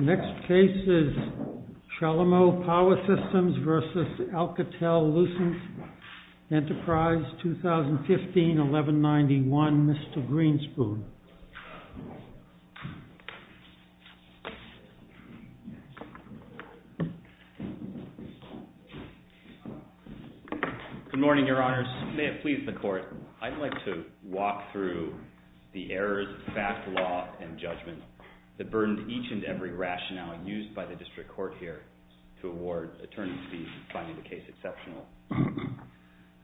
Next case is Chalumeau Power Systems v. Alcatel-Lucent Enterprise, Texas, United States. 2015-1191, Mr. Greenspoon. Good morning, your honors. May it please the court, I'd like to walk through the errors of fact, law, and judgment that burden each and every rationale used by the district court here to award attorneys fees finding the case exceptional.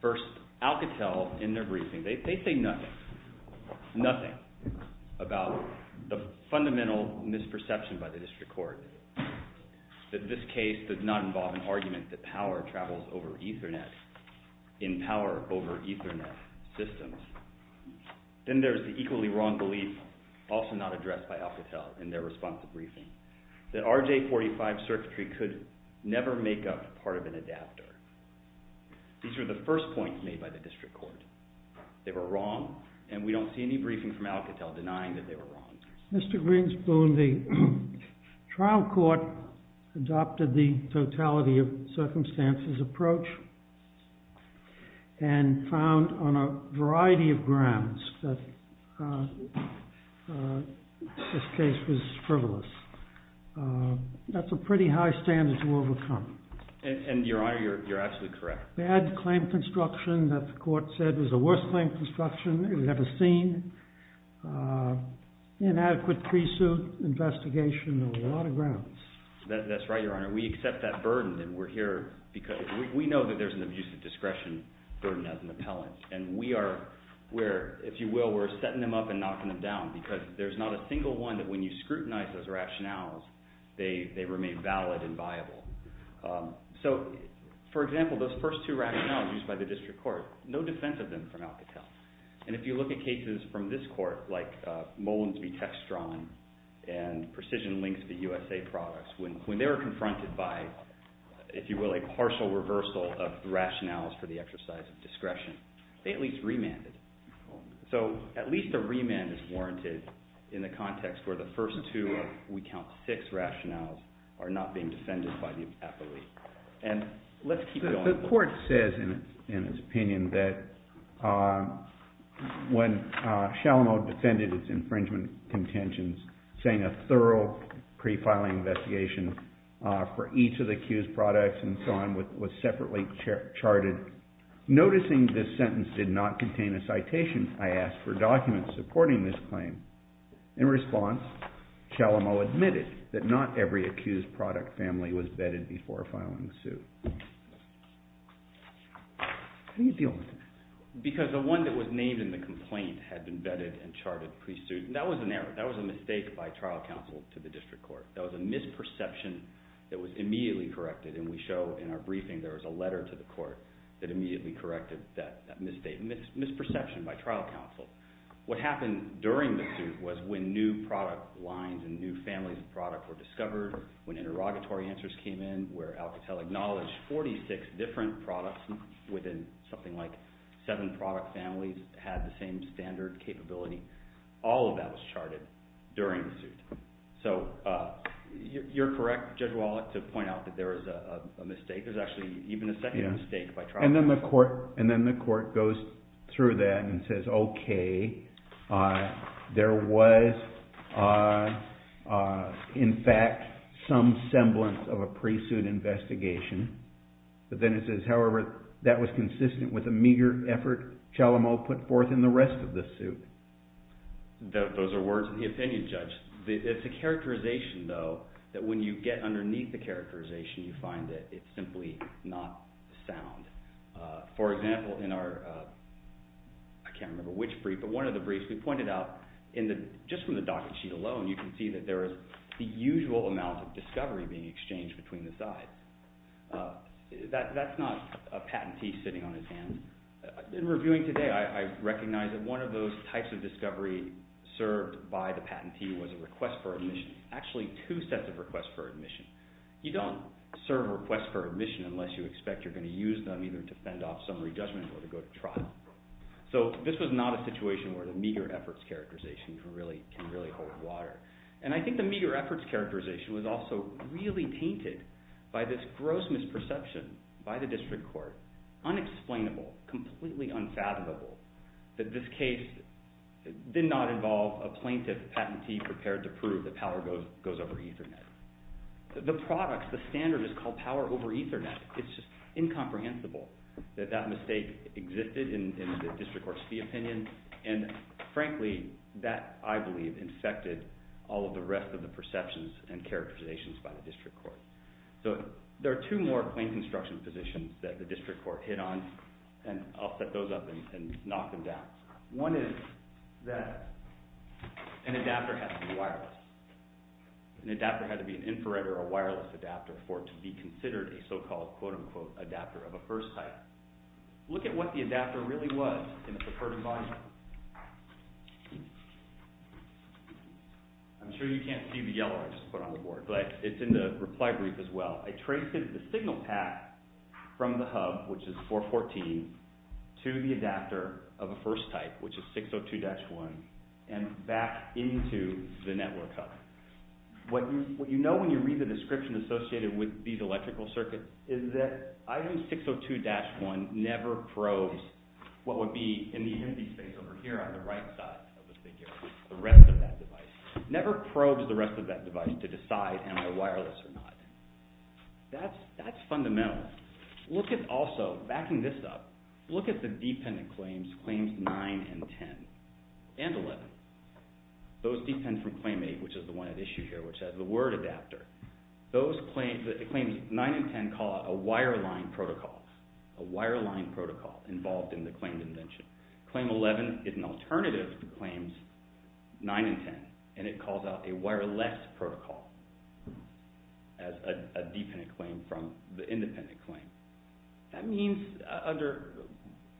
First, Alcatel, in their briefing, they say nothing, nothing, about the fundamental misperception by the district court that this case does not involve an argument that power travels over Ethernet, in power over Ethernet systems. Then there's the equally wrong belief, also not addressed by Alcatel, in their response to the briefing, that RJ45 circuitry could never make up part of an adapter. These are the first points made by the district court. They were wrong, and we don't see any briefing from Alcatel denying that they were wrong. Mr. Greenspoon, the trial court adopted the totality of circumstances approach and found on a variety of grounds that this case was frivolous. That's a pretty high standard to overcome. And, Your Honor, you're absolutely correct. Bad claim construction that the court said was the worst claim construction ever seen. Inadequate pre-suit investigation on a lot of grounds. That's right, Your Honor. We accept that burden, and we're here because we know that there's an abusive discretion burden as an appellant. And we are, if you will, we're setting them up and knocking them down because there's not a single one that when you scrutinize those rationales, they remain valid and viable. So, for example, those first two rationales used by the district court, no defense of them from Alcatel. And if you look at cases from this court, like Mullins v. Textron and Precision Links v. USA Products, when they were confronted by, if you will, a partial reversal of rationales for the exercise of discretion, they at least remanded. So, at least a remand is warranted in the context where the first two, if we count six rationales, are not being defended by the appellee. And let's keep going. The court says in its opinion that when Shalomo defended its infringement contentions, saying a thorough pre-filing investigation for each of the accused products and so on was separately charted, noticing this sentence did not contain a citation, I asked for documents supporting this claim. In response, Shalomo admitted that not every accused product family was bedded before filing the suit. How do you deal with that? Because the one that was named in the complaint had been bedded and charted pre-suit, and that was an error. That was a mistake by trial counsel to the district court. That was a misperception that was immediately corrected, and we show in our briefing there was a letter to the court that immediately corrected that misperception by trial counsel. What happened during the suit was when new product lines and new families of product were discovered, when interrogatory answers came in, where Alcatel acknowledged 46 different products within something like seven product families had the same standard capability. So you're correct, Judge Wallach, to point out that there is a mistake. There's actually even a second mistake by trial counsel. And then the court goes through that and says, okay, there was in fact some semblance of a pre-suit investigation. But then it says, however, that was consistent with a meager effort Shalomo put forth in the rest of the suit. Those are words of the opinion, Judge. It's a characterization, though, that when you get underneath the characterization, you find that it's simply not sound. For example, in our – I can't remember which brief, but one of the briefs we pointed out, just from the docket sheet alone you can see that there is the usual amount of discovery being exchanged between the sides. That's not a patentee sitting on his hands. In reviewing today, I recognize that one of those types of discovery served by the patentee was a request for admission. Actually, two sets of requests for admission. You don't serve requests for admission unless you expect you're going to use them either to fend off summary judgment or to go to trial. So this was not a situation where the meager efforts characterization can really hold water. And I think the meager efforts characterization was also really tainted by this gross misperception by the district court, unexplainable, completely unfathomable, that this case did not involve a plaintiff patentee prepared to prove that power goes over Ethernet. The product, the standard is called power over Ethernet. It's just incomprehensible that that mistake existed in the district court's fee opinion, and frankly, that, I believe, infected all of the rest of the perceptions and characterizations by the district court. So there are two more plain construction positions that the district court hit on, and I'll set those up and knock them down. One is that an adapter has to be wireless. An adapter had to be an infrared or a wireless adapter for it to be considered a so-called, quote-unquote, adapter of a first type. Look at what the adapter really was in the preferred environment. I'm sure you can't see the yellow I just put on the board, but it's in the reply brief as well. I traced the signal path from the hub, which is 414, to the adapter of a first type, which is 602-1, and back into the network hub. What you know when you read the description associated with these electrical circuits is that item 602-1 never probes what would be in the empty space over here on the right side of the figure, the rest of that device. It never probes the rest of that device to decide, am I wireless or not? That's fundamental. Backing this up, look at the dependent claims, claims 9 and 10 and 11. Those depend from claim 8, which is the one at issue here, which has the word adapter. Claims 9 and 10 call it a wireline protocol, a wireline protocol involved in the claimed invention. Claim 11 is an alternative to claims 9 and 10, and it calls out a wireless protocol as a dependent claim from the independent claim. That means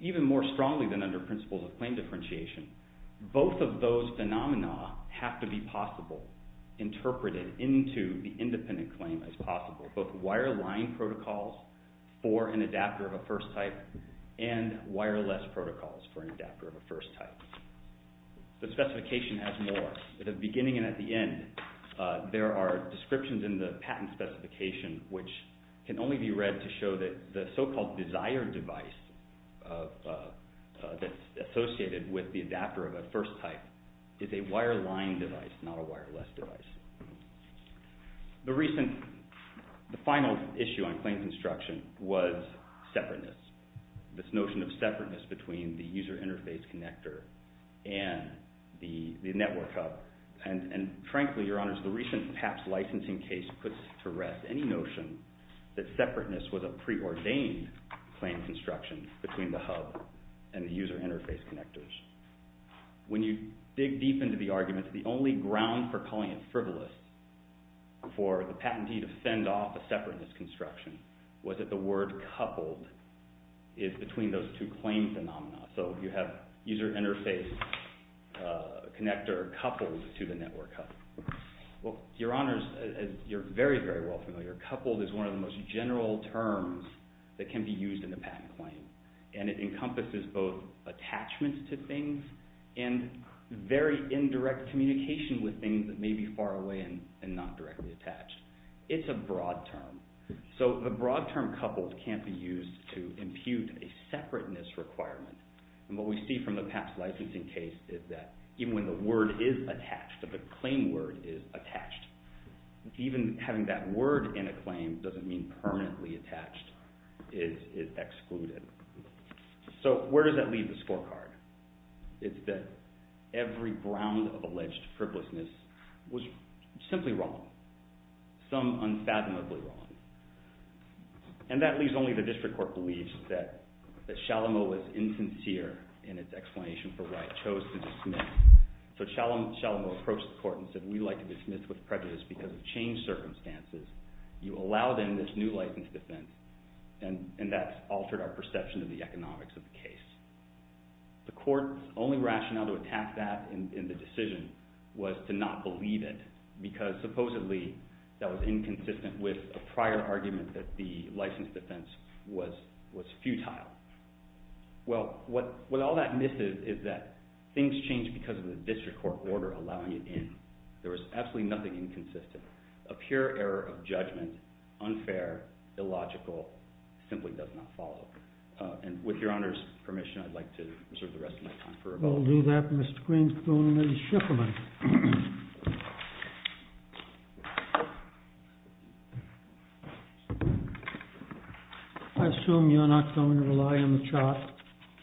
even more strongly than under principles of claim differentiation, both of those phenomena have to be possible, interpreted into the independent claim as possible, both wireline protocols for an adapter of a first type and wireless protocols for an adapter of a first type. The specification has more. At the beginning and at the end, there are descriptions in the patent specification which can only be read to show that the so-called desired device that's associated with the adapter of a first type is a wireline device, not a wireless device. The final issue on claim construction was separateness, this notion of separateness between the user interface connector and the network hub. And frankly, Your Honors, the recent PAPS licensing case puts to rest any notion that separateness was a preordained claim construction between the hub and the user interface connectors. When you dig deep into the arguments, the only ground for calling it frivolous for the patentee to send off a separateness construction was that the word coupled is between those two claim phenomena. So you have user interface connector coupled to the network hub. Well, Your Honors, you're very, very well familiar. Coupled is one of the most general terms that can be used in a patent claim. And it encompasses both attachments to things and very indirect communication with things that may be far away and not directly attached. It's a broad term. So the broad term coupled can't be used to impute a separateness requirement. And what we see from the PAPS licensing case is that even when the word is attached, the claim word is attached, even having that word in a claim doesn't mean permanently attached. It is excluded. So where does that leave the scorecard? It's that every ground of alleged frivolousness was simply wrong, some unfathomably wrong. And that leaves only the district court belief that Shalomow was insincere in its explanation for why it chose to dismiss. So Shalomow approached the court and said, we like to dismiss with prejudice because of changed circumstances. You allow them this new license defense, and that altered our perception of the economics of the case. The court's only rationale to attack that in the decision was to not believe it because supposedly that was inconsistent with a prior argument that the license defense was futile. Well, what all that misses is that things change because of the district court order allowing it in. There was absolutely nothing inconsistent. A pure error of judgment, unfair, illogical, simply does not follow. And with your honor's permission, I'd like to reserve the rest of my time. We'll do that, Mr. Greenspoon and Ms. Schifferman. I assume you're not going to rely on the chart?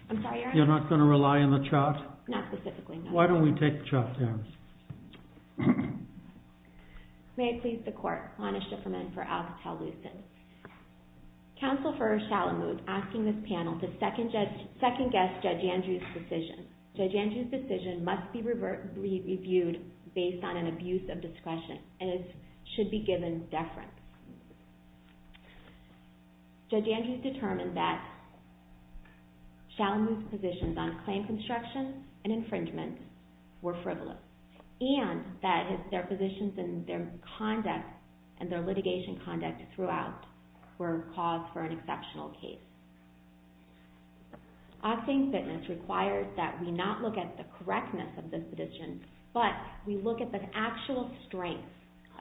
I'm sorry, your honor? You're not going to rely on the chart? Not specifically, no. Why don't we take the chart down? May I please the court, Lana Schifferman for Alcatel-Lucent. Counsel for Shalamud, asking this panel to second-guess Judge Andrews' decision. Judge Andrews' decision must be reviewed based on an abuse of discretion, and it should be given deference. Judge Andrews determined that Shalamud's positions on claim construction and infringement were frivolous, and that their positions and their conduct and their litigation conduct throughout were cause for an exceptional case. Asking fitness requires that we not look at the correctness of this position, but we look at the actual strength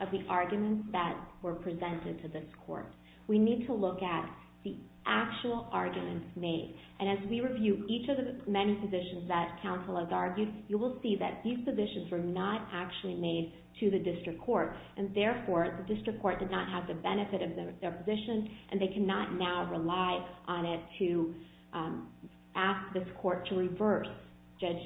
of the arguments that were presented to this court. We need to look at the actual arguments made. And as we review each of the many positions that counsel has argued, you will see that these positions were not actually made to the district court, and therefore the district court did not have the benefit of their position, and they cannot now rely on it to ask this court to reverse Judge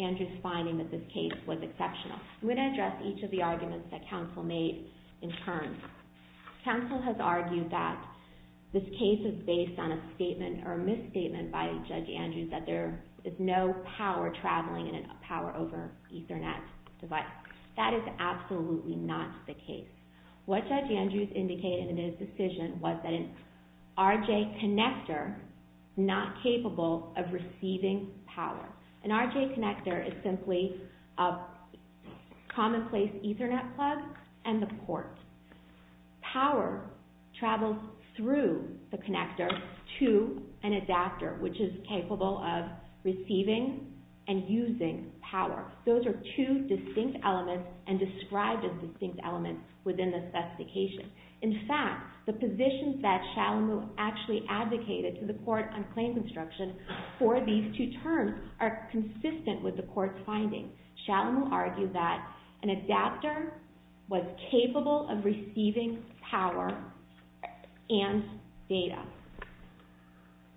Andrews' finding that this case was exceptional. I'm going to address each of the arguments that counsel made in turn. Counsel has argued that this case is based on a statement or a misstatement by Judge Andrews that there is no power traveling in a power over Ethernet device. That is absolutely not the case. What Judge Andrews indicated in his decision was that an RJ connector is not capable of receiving power. An RJ connector is simply a commonplace Ethernet plug and the port. Power travels through the connector to an adapter, which is capable of receiving and using power. Those are two distinct elements and described as distinct elements within the specification. In fact, the positions that Shalomu actually advocated to the court on claim construction for these two terms are consistent with the court's findings. Shalomu argued that an adapter was capable of receiving power and data.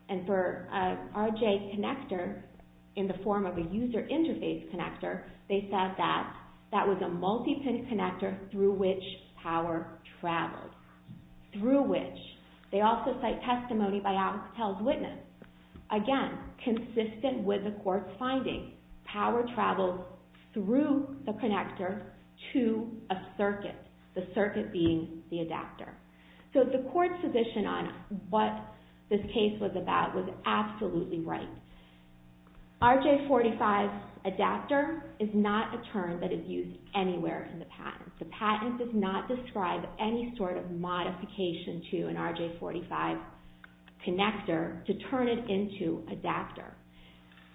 And for an RJ connector, in the form of a user interface connector, they said that that was a multi-pin connector through which power traveled. Through which. They also cite testimony by Alex Pell's witness. Again, consistent with the court's findings, power travels through the connector to a circuit, the circuit being the adapter. So the court's position on what this case was about was absolutely right. RJ45 adapter is not a term that is used anywhere in the patent. The patent does not describe any sort of modification to an RJ45 connector to turn it into adapter.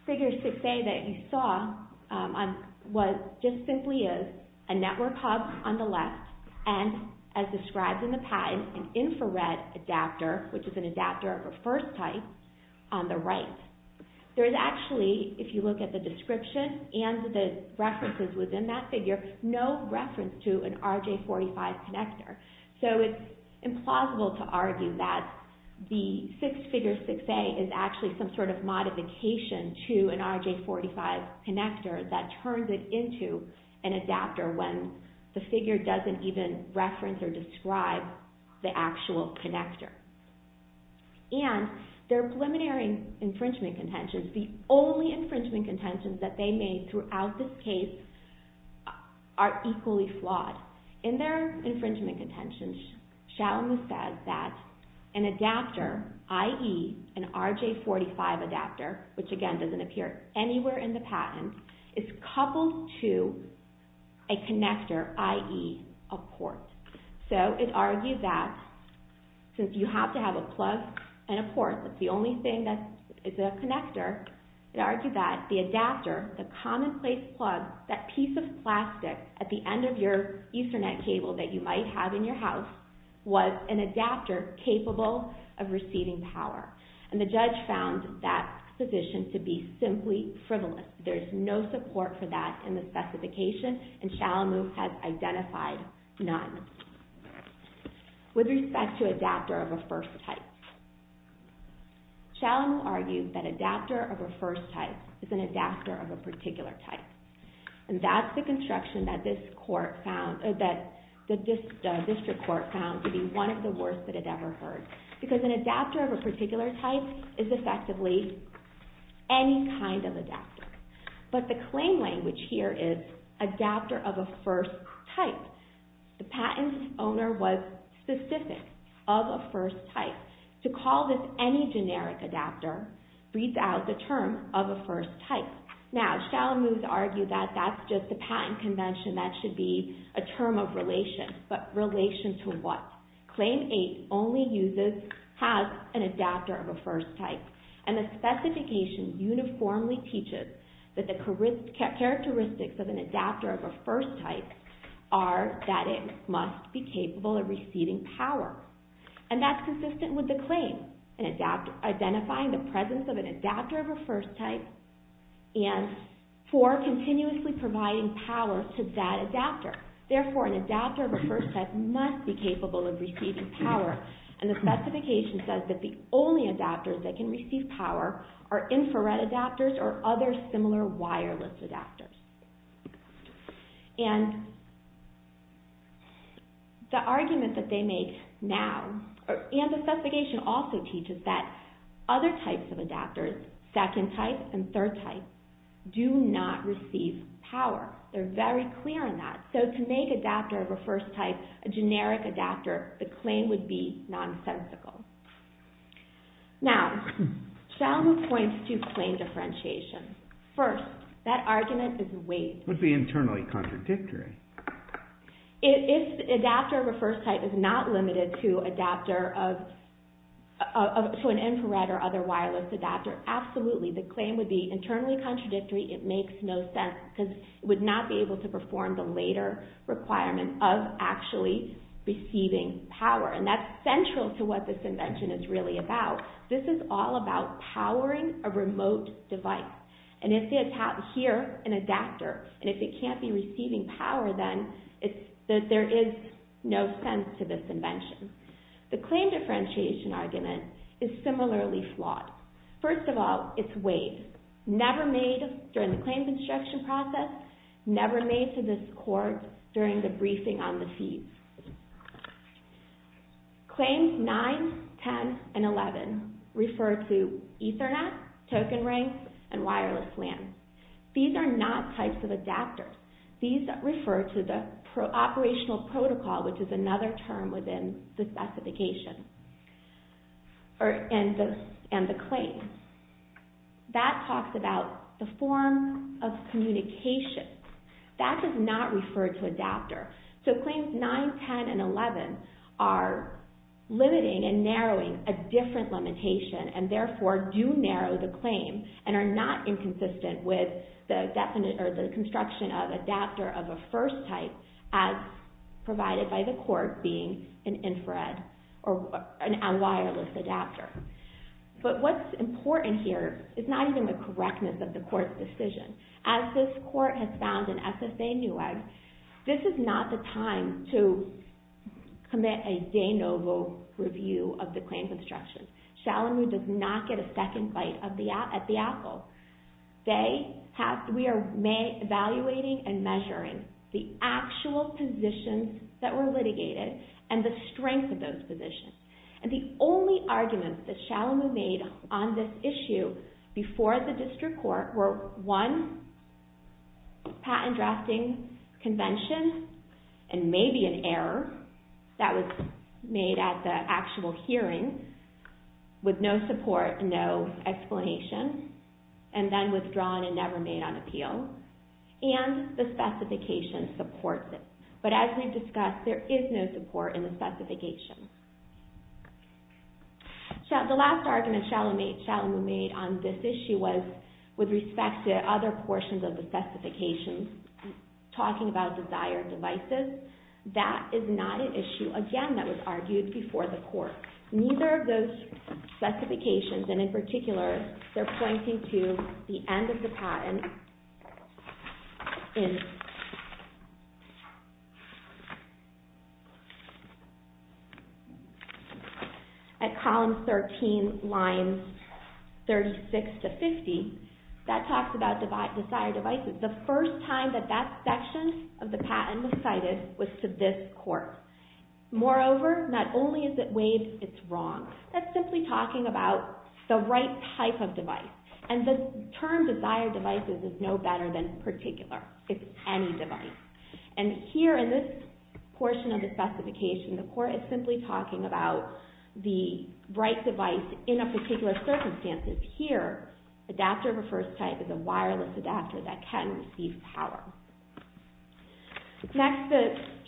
Figure 6A that you saw just simply is a network hub on the left, and as described in the patent, an infrared adapter, which is an adapter of a first type, on the right. There is actually, if you look at the description and the references within that figure, no reference to an RJ45 connector. So it's implausible to argue that the figure 6A is actually some sort of modification to an RJ45 connector that turns it into an adapter when the figure doesn't even reference or describe the actual connector. And their preliminary infringement contentions, the only infringement contentions that they made throughout this case, are equally flawed. In their infringement contentions, Shalma says that an adapter, i.e. an RJ45 adapter, which again doesn't appear anywhere in the patent, is coupled to a connector, i.e. a port. So it argues that since you have to have a plug and a port, that's the only thing that's a connector, it argues that the adapter, the commonplace plug, that piece of plastic at the end of your Ethernet cable that you might have in your house, was an adapter capable of receiving power. And the judge found that position to be simply frivolous. There's no support for that in the specification, and Shalma has identified none. With respect to adapter of a first type, Shalma argues that adapter of a first type is an adapter of a particular type. And that's the construction that this court found, that the district court found to be one of the worst that it ever heard. Because an adapter of a particular type is effectively any kind of adapter. But the claim language here is adapter of a first type. So, the patent owner was specific of a first type. To call this any generic adapter, reads out the term of a first type. Now, Shalma argues that that's just the patent convention, that should be a term of relation. But relation to what? Claim 8 only has an adapter of a first type. And the specification uniformly teaches that the characteristics of an adapter of a first type are that it must be capable of receiving power. And that's consistent with the claim, identifying the presence of an adapter of a first type and for continuously providing power to that adapter. Therefore, an adapter of a first type must be capable of receiving power. And the specification says that the only adapters that can receive power are infrared adapters or other similar wireless adapters. And the argument that they make now, and the specification also teaches that other types of adapters, second type and third type, do not receive power. They're very clear on that. So, to make adapter of a first type a generic adapter, the claim would be nonsensical. Now, Shalma points to claim differentiation. First, that argument is vague. It would be internally contradictory. If adapter of a first type is not limited to an infrared or other wireless adapter, absolutely, the claim would be internally contradictory. It makes no sense because it would not be able to perform the later requirement of actually receiving power. And that's central to what this invention is really about. This is all about powering a remote device. And if you have here an adapter, and if it can't be receiving power, then there is no sense to this invention. The claim differentiation argument is similarly flawed. First of all, it's vague. Never made during the claims instruction process, never made to this court during the briefing on the fees. Claims 9, 10, and 11 refer to Ethernet, token ranks, and wireless LAN. These are not types of adapters. These refer to the operational protocol, which is another term within the specification and the claim. That talks about the form of communication. That does not refer to adapter. So claims 9, 10, and 11 are limiting and narrowing a different limitation and, therefore, do narrow the claim and are not inconsistent with the construction of adapter of a first type as provided by the court being an infrared or a wireless adapter. But what's important here is not even the correctness of the court's decision. As this court has found in SSA NEWEG, this is not the time to commit a de novo review of the claims instruction. Shalomu does not get a second bite at the apple. We are evaluating and measuring the actual positions that were litigated and the strength of those positions. And the only arguments that Shalomu made on this issue before the district court were, one, patent drafting convention and maybe an error that was made at the actual hearing with no support, no explanation, and then withdrawn and never made on appeal, and the specification supports it. But as we've discussed, there is no support in the specification. The last argument Shalomu made on this issue was with respect to other portions of the specifications, talking about desired devices. That is not an issue, again, that was argued before the court. Neither of those specifications, and in particular, they're pointing to the end of the patent in at column 13, lines 36 to 50, that talks about desired devices. The first time that that section of the patent was cited was to this court. Moreover, not only is it waived, it's wrong. That's simply talking about the right type of device. And the term desired devices is no better than particular. It's any device. And here in this portion of the specification, the court is simply talking about the right device in a particular circumstance. Here, adapter of a first type is a wireless adapter that can receive power. Next,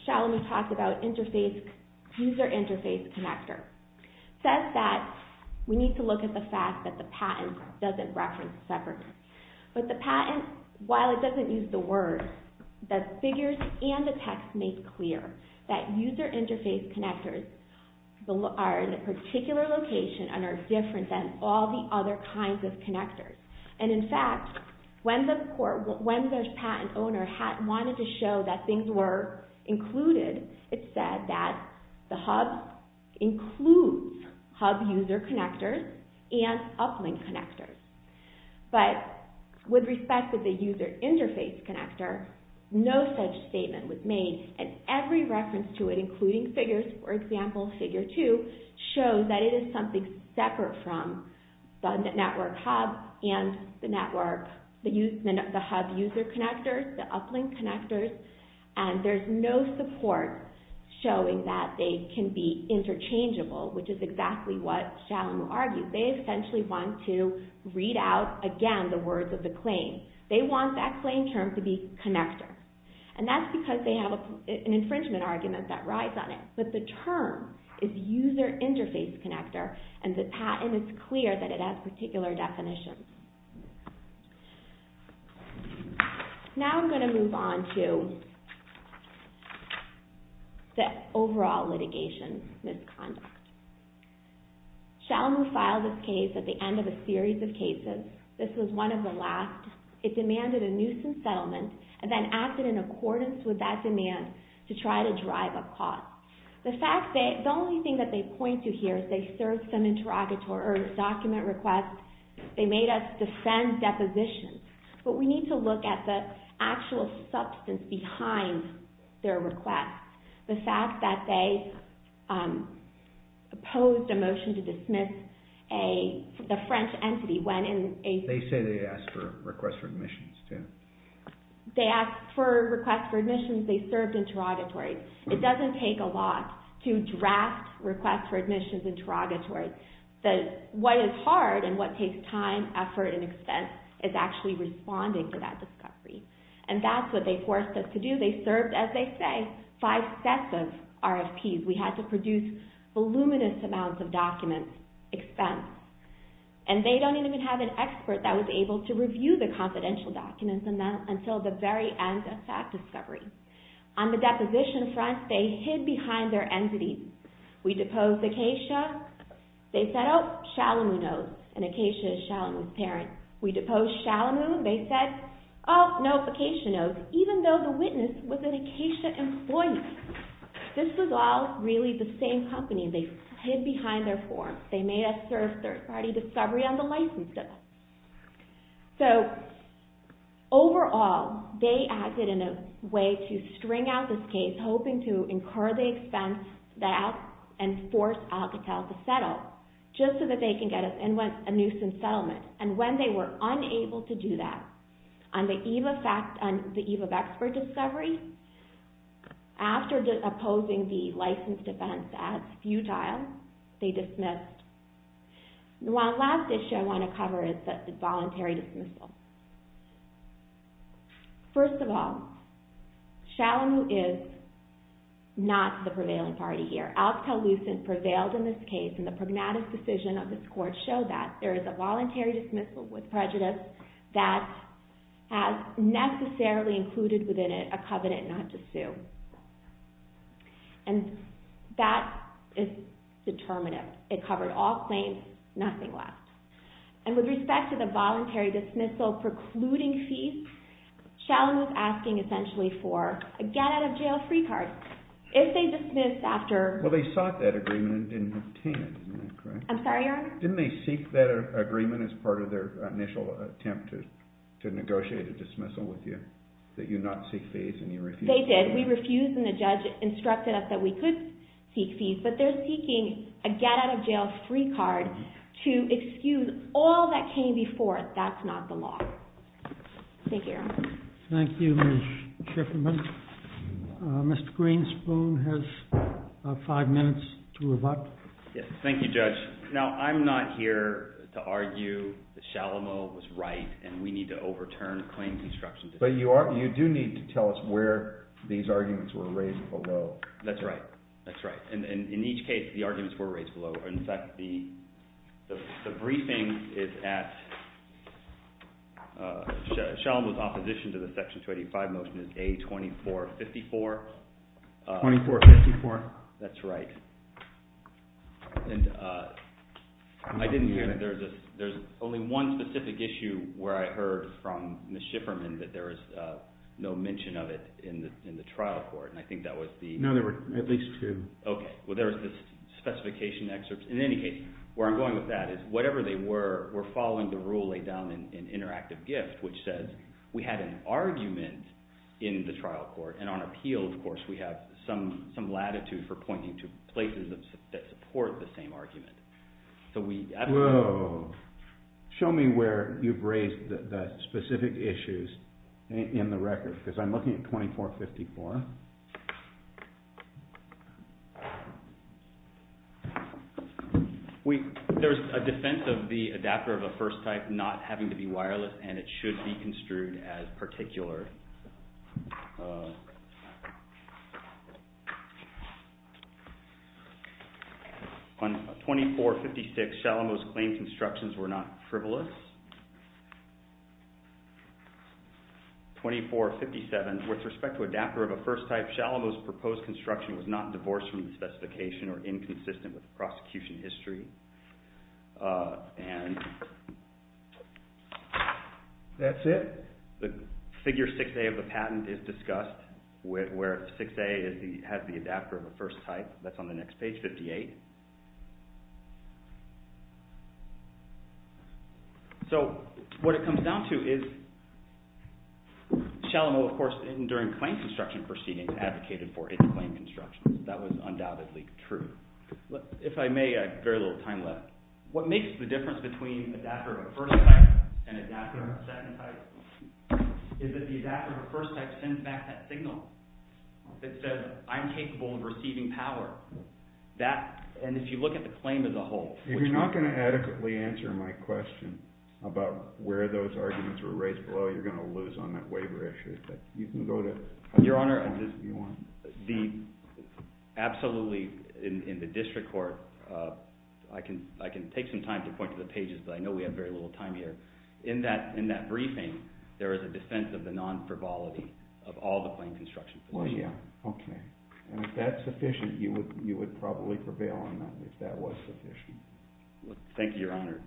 Shalomu talked about user interface connector. Says that we need to look at the fact that the patent doesn't reference separately. But the patent, while it doesn't use the word, the figures and the text make clear that user interface connectors are in a particular location and are different than all the other kinds of connectors. And in fact, when the patent owner wanted to show that things were included, it said that the hub includes hub user connectors and uplink connectors. But with respect to the user interface connector, no such statement was made. And every reference to it, including figures, for example, figure 2, shows that it is something separate from the network hub and the hub user connectors, the uplink connectors. And there's no support showing that they can be interchangeable, which is exactly what Shalomu argued. They essentially want to read out, again, the words of the claim. They want that claim term to be connector. And that's because they have an infringement argument that rides on it. But the term is user interface connector, and the patent is clear that it has particular definitions. Now I'm going to move on to the overall litigation misconduct. Shalomu filed this case at the end of a series of cases. This was one of the last. It demanded a nuisance settlement, and then acted in accordance with that demand to try to drive a clause. The only thing that they point to here is they served some document requests. They made us defend depositions. But we need to look at the actual substance behind their request. The fact that they opposed a motion to dismiss a French entity when in a- They say they asked for a request for admissions, too. They asked for a request for admissions. They served interrogatories. It doesn't take a lot to draft requests for admissions interrogatories. What is hard and what takes time, effort, and expense is actually responding to that discovery. And that's what they forced us to do. They served, as they say, five sets of RFPs. We had to produce voluminous amounts of documents, expense. And they don't even have an expert that was able to review the confidential documents until the very end of that discovery. On the deposition front, they hid behind their entities. We deposed Acacia. They said, oh, Shalomu knows, and Acacia is Shalomu's parent. We deposed Shalomu, and they said, oh, no, Acacia knows, even though the witness was an Acacia employee. This was all really the same company. They hid behind their forms. They made us serve third-party discovery on the licenses. So, overall, they acted in a way to string out this case, hoping to incur the expense and force Alcatel to settle just so that they can get a nuisance settlement. And when they were unable to do that, on the eve of expert discovery, after opposing the licensed defense as futile, they dismissed. The last issue I want to cover is the voluntary dismissal. First of all, Shalomu is not the prevailing party here. Alcatel-Lucent prevailed in this case, and the pragmatic decision of this court showed that. There is a voluntary dismissal with prejudice that has necessarily included within it a covenant not to sue. And that is determinative. It covered all claims, nothing less. And with respect to the voluntary dismissal precluding fees, Shalomu is asking essentially for a get-out-of-jail-free card. If they dismiss after... Well, they sought that agreement and didn't obtain it, correct? I'm sorry, Your Honor? Didn't they seek that agreement as part of their initial attempt to negotiate a dismissal with you, that you not seek fees and you refused? They did. We refused, and the judge instructed us that we could seek fees. But they're seeking a get-out-of-jail-free card to excuse all that came before it. That's not the law. Thank you, Your Honor. Thank you, Ms. Schiffman. Mr. Greenspoon has five minutes to rebut. Yes, thank you, Judge. Now, I'm not here to argue that Shalomu was right and we need to overturn claims instruction. But you do need to tell us where these arguments were raised below. That's right. That's right. In each case, the arguments were raised below. In fact, the briefing is at... Shalomu's opposition to the Section 285 motion is A2454. 2454. That's right. And I didn't hear that there's only one specific issue where I heard from Ms. Schiffman that there is no mention of it in the trial court. And I think that was the... No, there were at least two. Okay. Well, there was this specification excerpt. In any case, where I'm going with that is whatever they were, we're following the rule laid down in Interactive Gift, which says we had an argument in the trial court. And on appeal, of course, we have some latitude for pointing to places that support the same argument. Whoa. Show me where you've raised the specific issues in the record, because I'm looking at 2454. There's a defense of the adapter of the first type not having to be wireless, and it should be construed as particular. On 2456, Shalomu's claims instructions were not frivolous. 2457, with respect to adapter of a first type, Shalomu's proposed construction was not divorced from the specification or inconsistent with the prosecution history. And that's it. The figure 6A of the patent is discussed, where 6A has the adapter of the first type. That's on the next page, 58. So what it comes down to is Shalomu, of course, during claim construction proceedings advocated for its claim instructions. That was undoubtedly true. If I may, I have very little time left. What makes the difference between adapter of the first type and adapter of the second type is that the adapter of the first type sends back that signal that says, I'm capable of receiving power. And if you look at the claim as a whole. If you're not going to adequately answer my question about where those arguments were raised below, you're going to lose on that waiver issue. You can go to – Your Honor, absolutely, in the district court, I can take some time to point to the pages, but I know we have very little time here. In that briefing, there is a defense of the non-frivolity of all the claim construction proceedings. Well, yeah. Okay. And if that's sufficient, you would probably prevail on that, if that was sufficient. Thank you, Your Honor.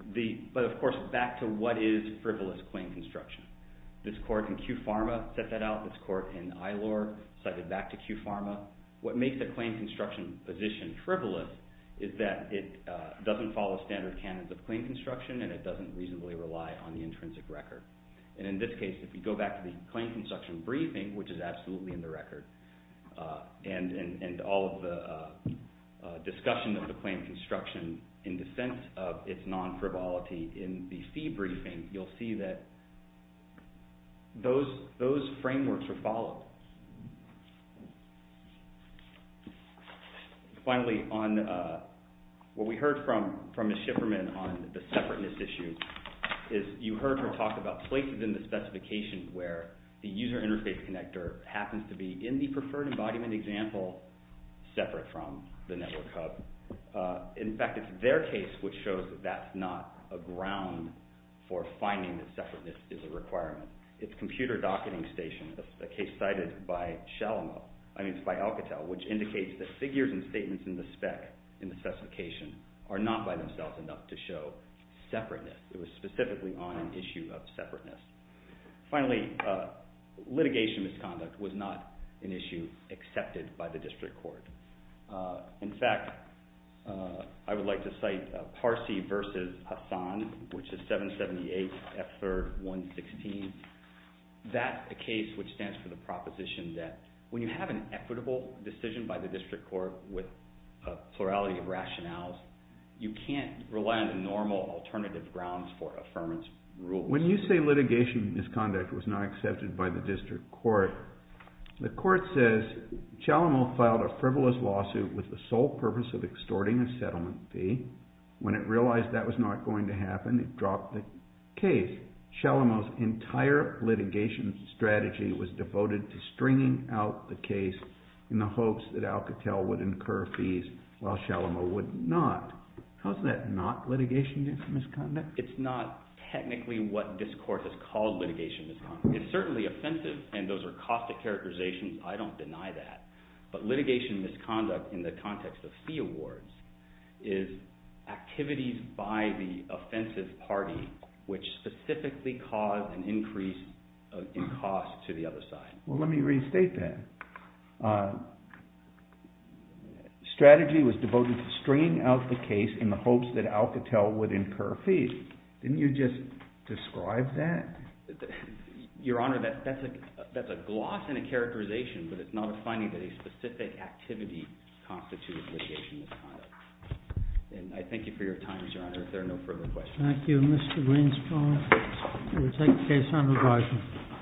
But, of course, back to what is frivolous claim construction. This court in Kew Pharma set that out. This court in Ilor cited back to Kew Pharma. What makes the claim construction position frivolous is that it doesn't follow standard canons of claim construction and it doesn't reasonably rely on the intrinsic record. And in this case, if you go back to the claim construction briefing, which is absolutely in the record, and all of the discussion of the claim construction in defense of its non-frivolity in the fee briefing, you'll see that those frameworks are followed. Finally, what we heard from Ms. Shifferman on the separateness issue is you heard her talk about places in the specification where the user interface connector happens to be in the preferred embodiment example separate from the network hub. In fact, it's their case which shows that that's not a ground for finding that separateness is a requirement. a case cited in the network hub, which is cited by Alcatel, which indicates that figures and statements in the spec in the specification are not by themselves enough to show separateness. It was specifically on an issue of separateness. Finally, litigation misconduct was not an issue accepted by the district court. In fact, I would like to cite Parsi v. Hassan, which is 778 F3rd 116. That's a case which stands for the proposition that when you have an equitable decision by the district court with a plurality of rationales, you can't rely on the normal alternative grounds for affirmance rules. When you say litigation misconduct was not accepted by the district court, the court says, Chalamot filed a frivolous lawsuit with the sole purpose of extorting a settlement fee. When it realized that was not going to happen, it dropped the case. Chalamot's entire litigation strategy was devoted to stringing out the case in the hopes that Alcatel would incur fees while Chalamot would not. How is that not litigation misconduct? It's not technically what this court has called litigation misconduct. It's certainly offensive, and those are caustic characterizations. I don't deny that. But litigation misconduct in the context of fee awards is activities by the offensive party which specifically cause an increase in cost to the other side. Well, let me restate that. Strategy was devoted to stringing out the case in the hopes that Alcatel would incur fees. Didn't you just describe that? Your Honor, that's a gloss and a characterization, but it's not a finding that a specific activity constitutes litigation misconduct. And I thank you for your time, Your Honor. If there are no further questions. Thank you, Mr. Greenspan. We will take the case under review.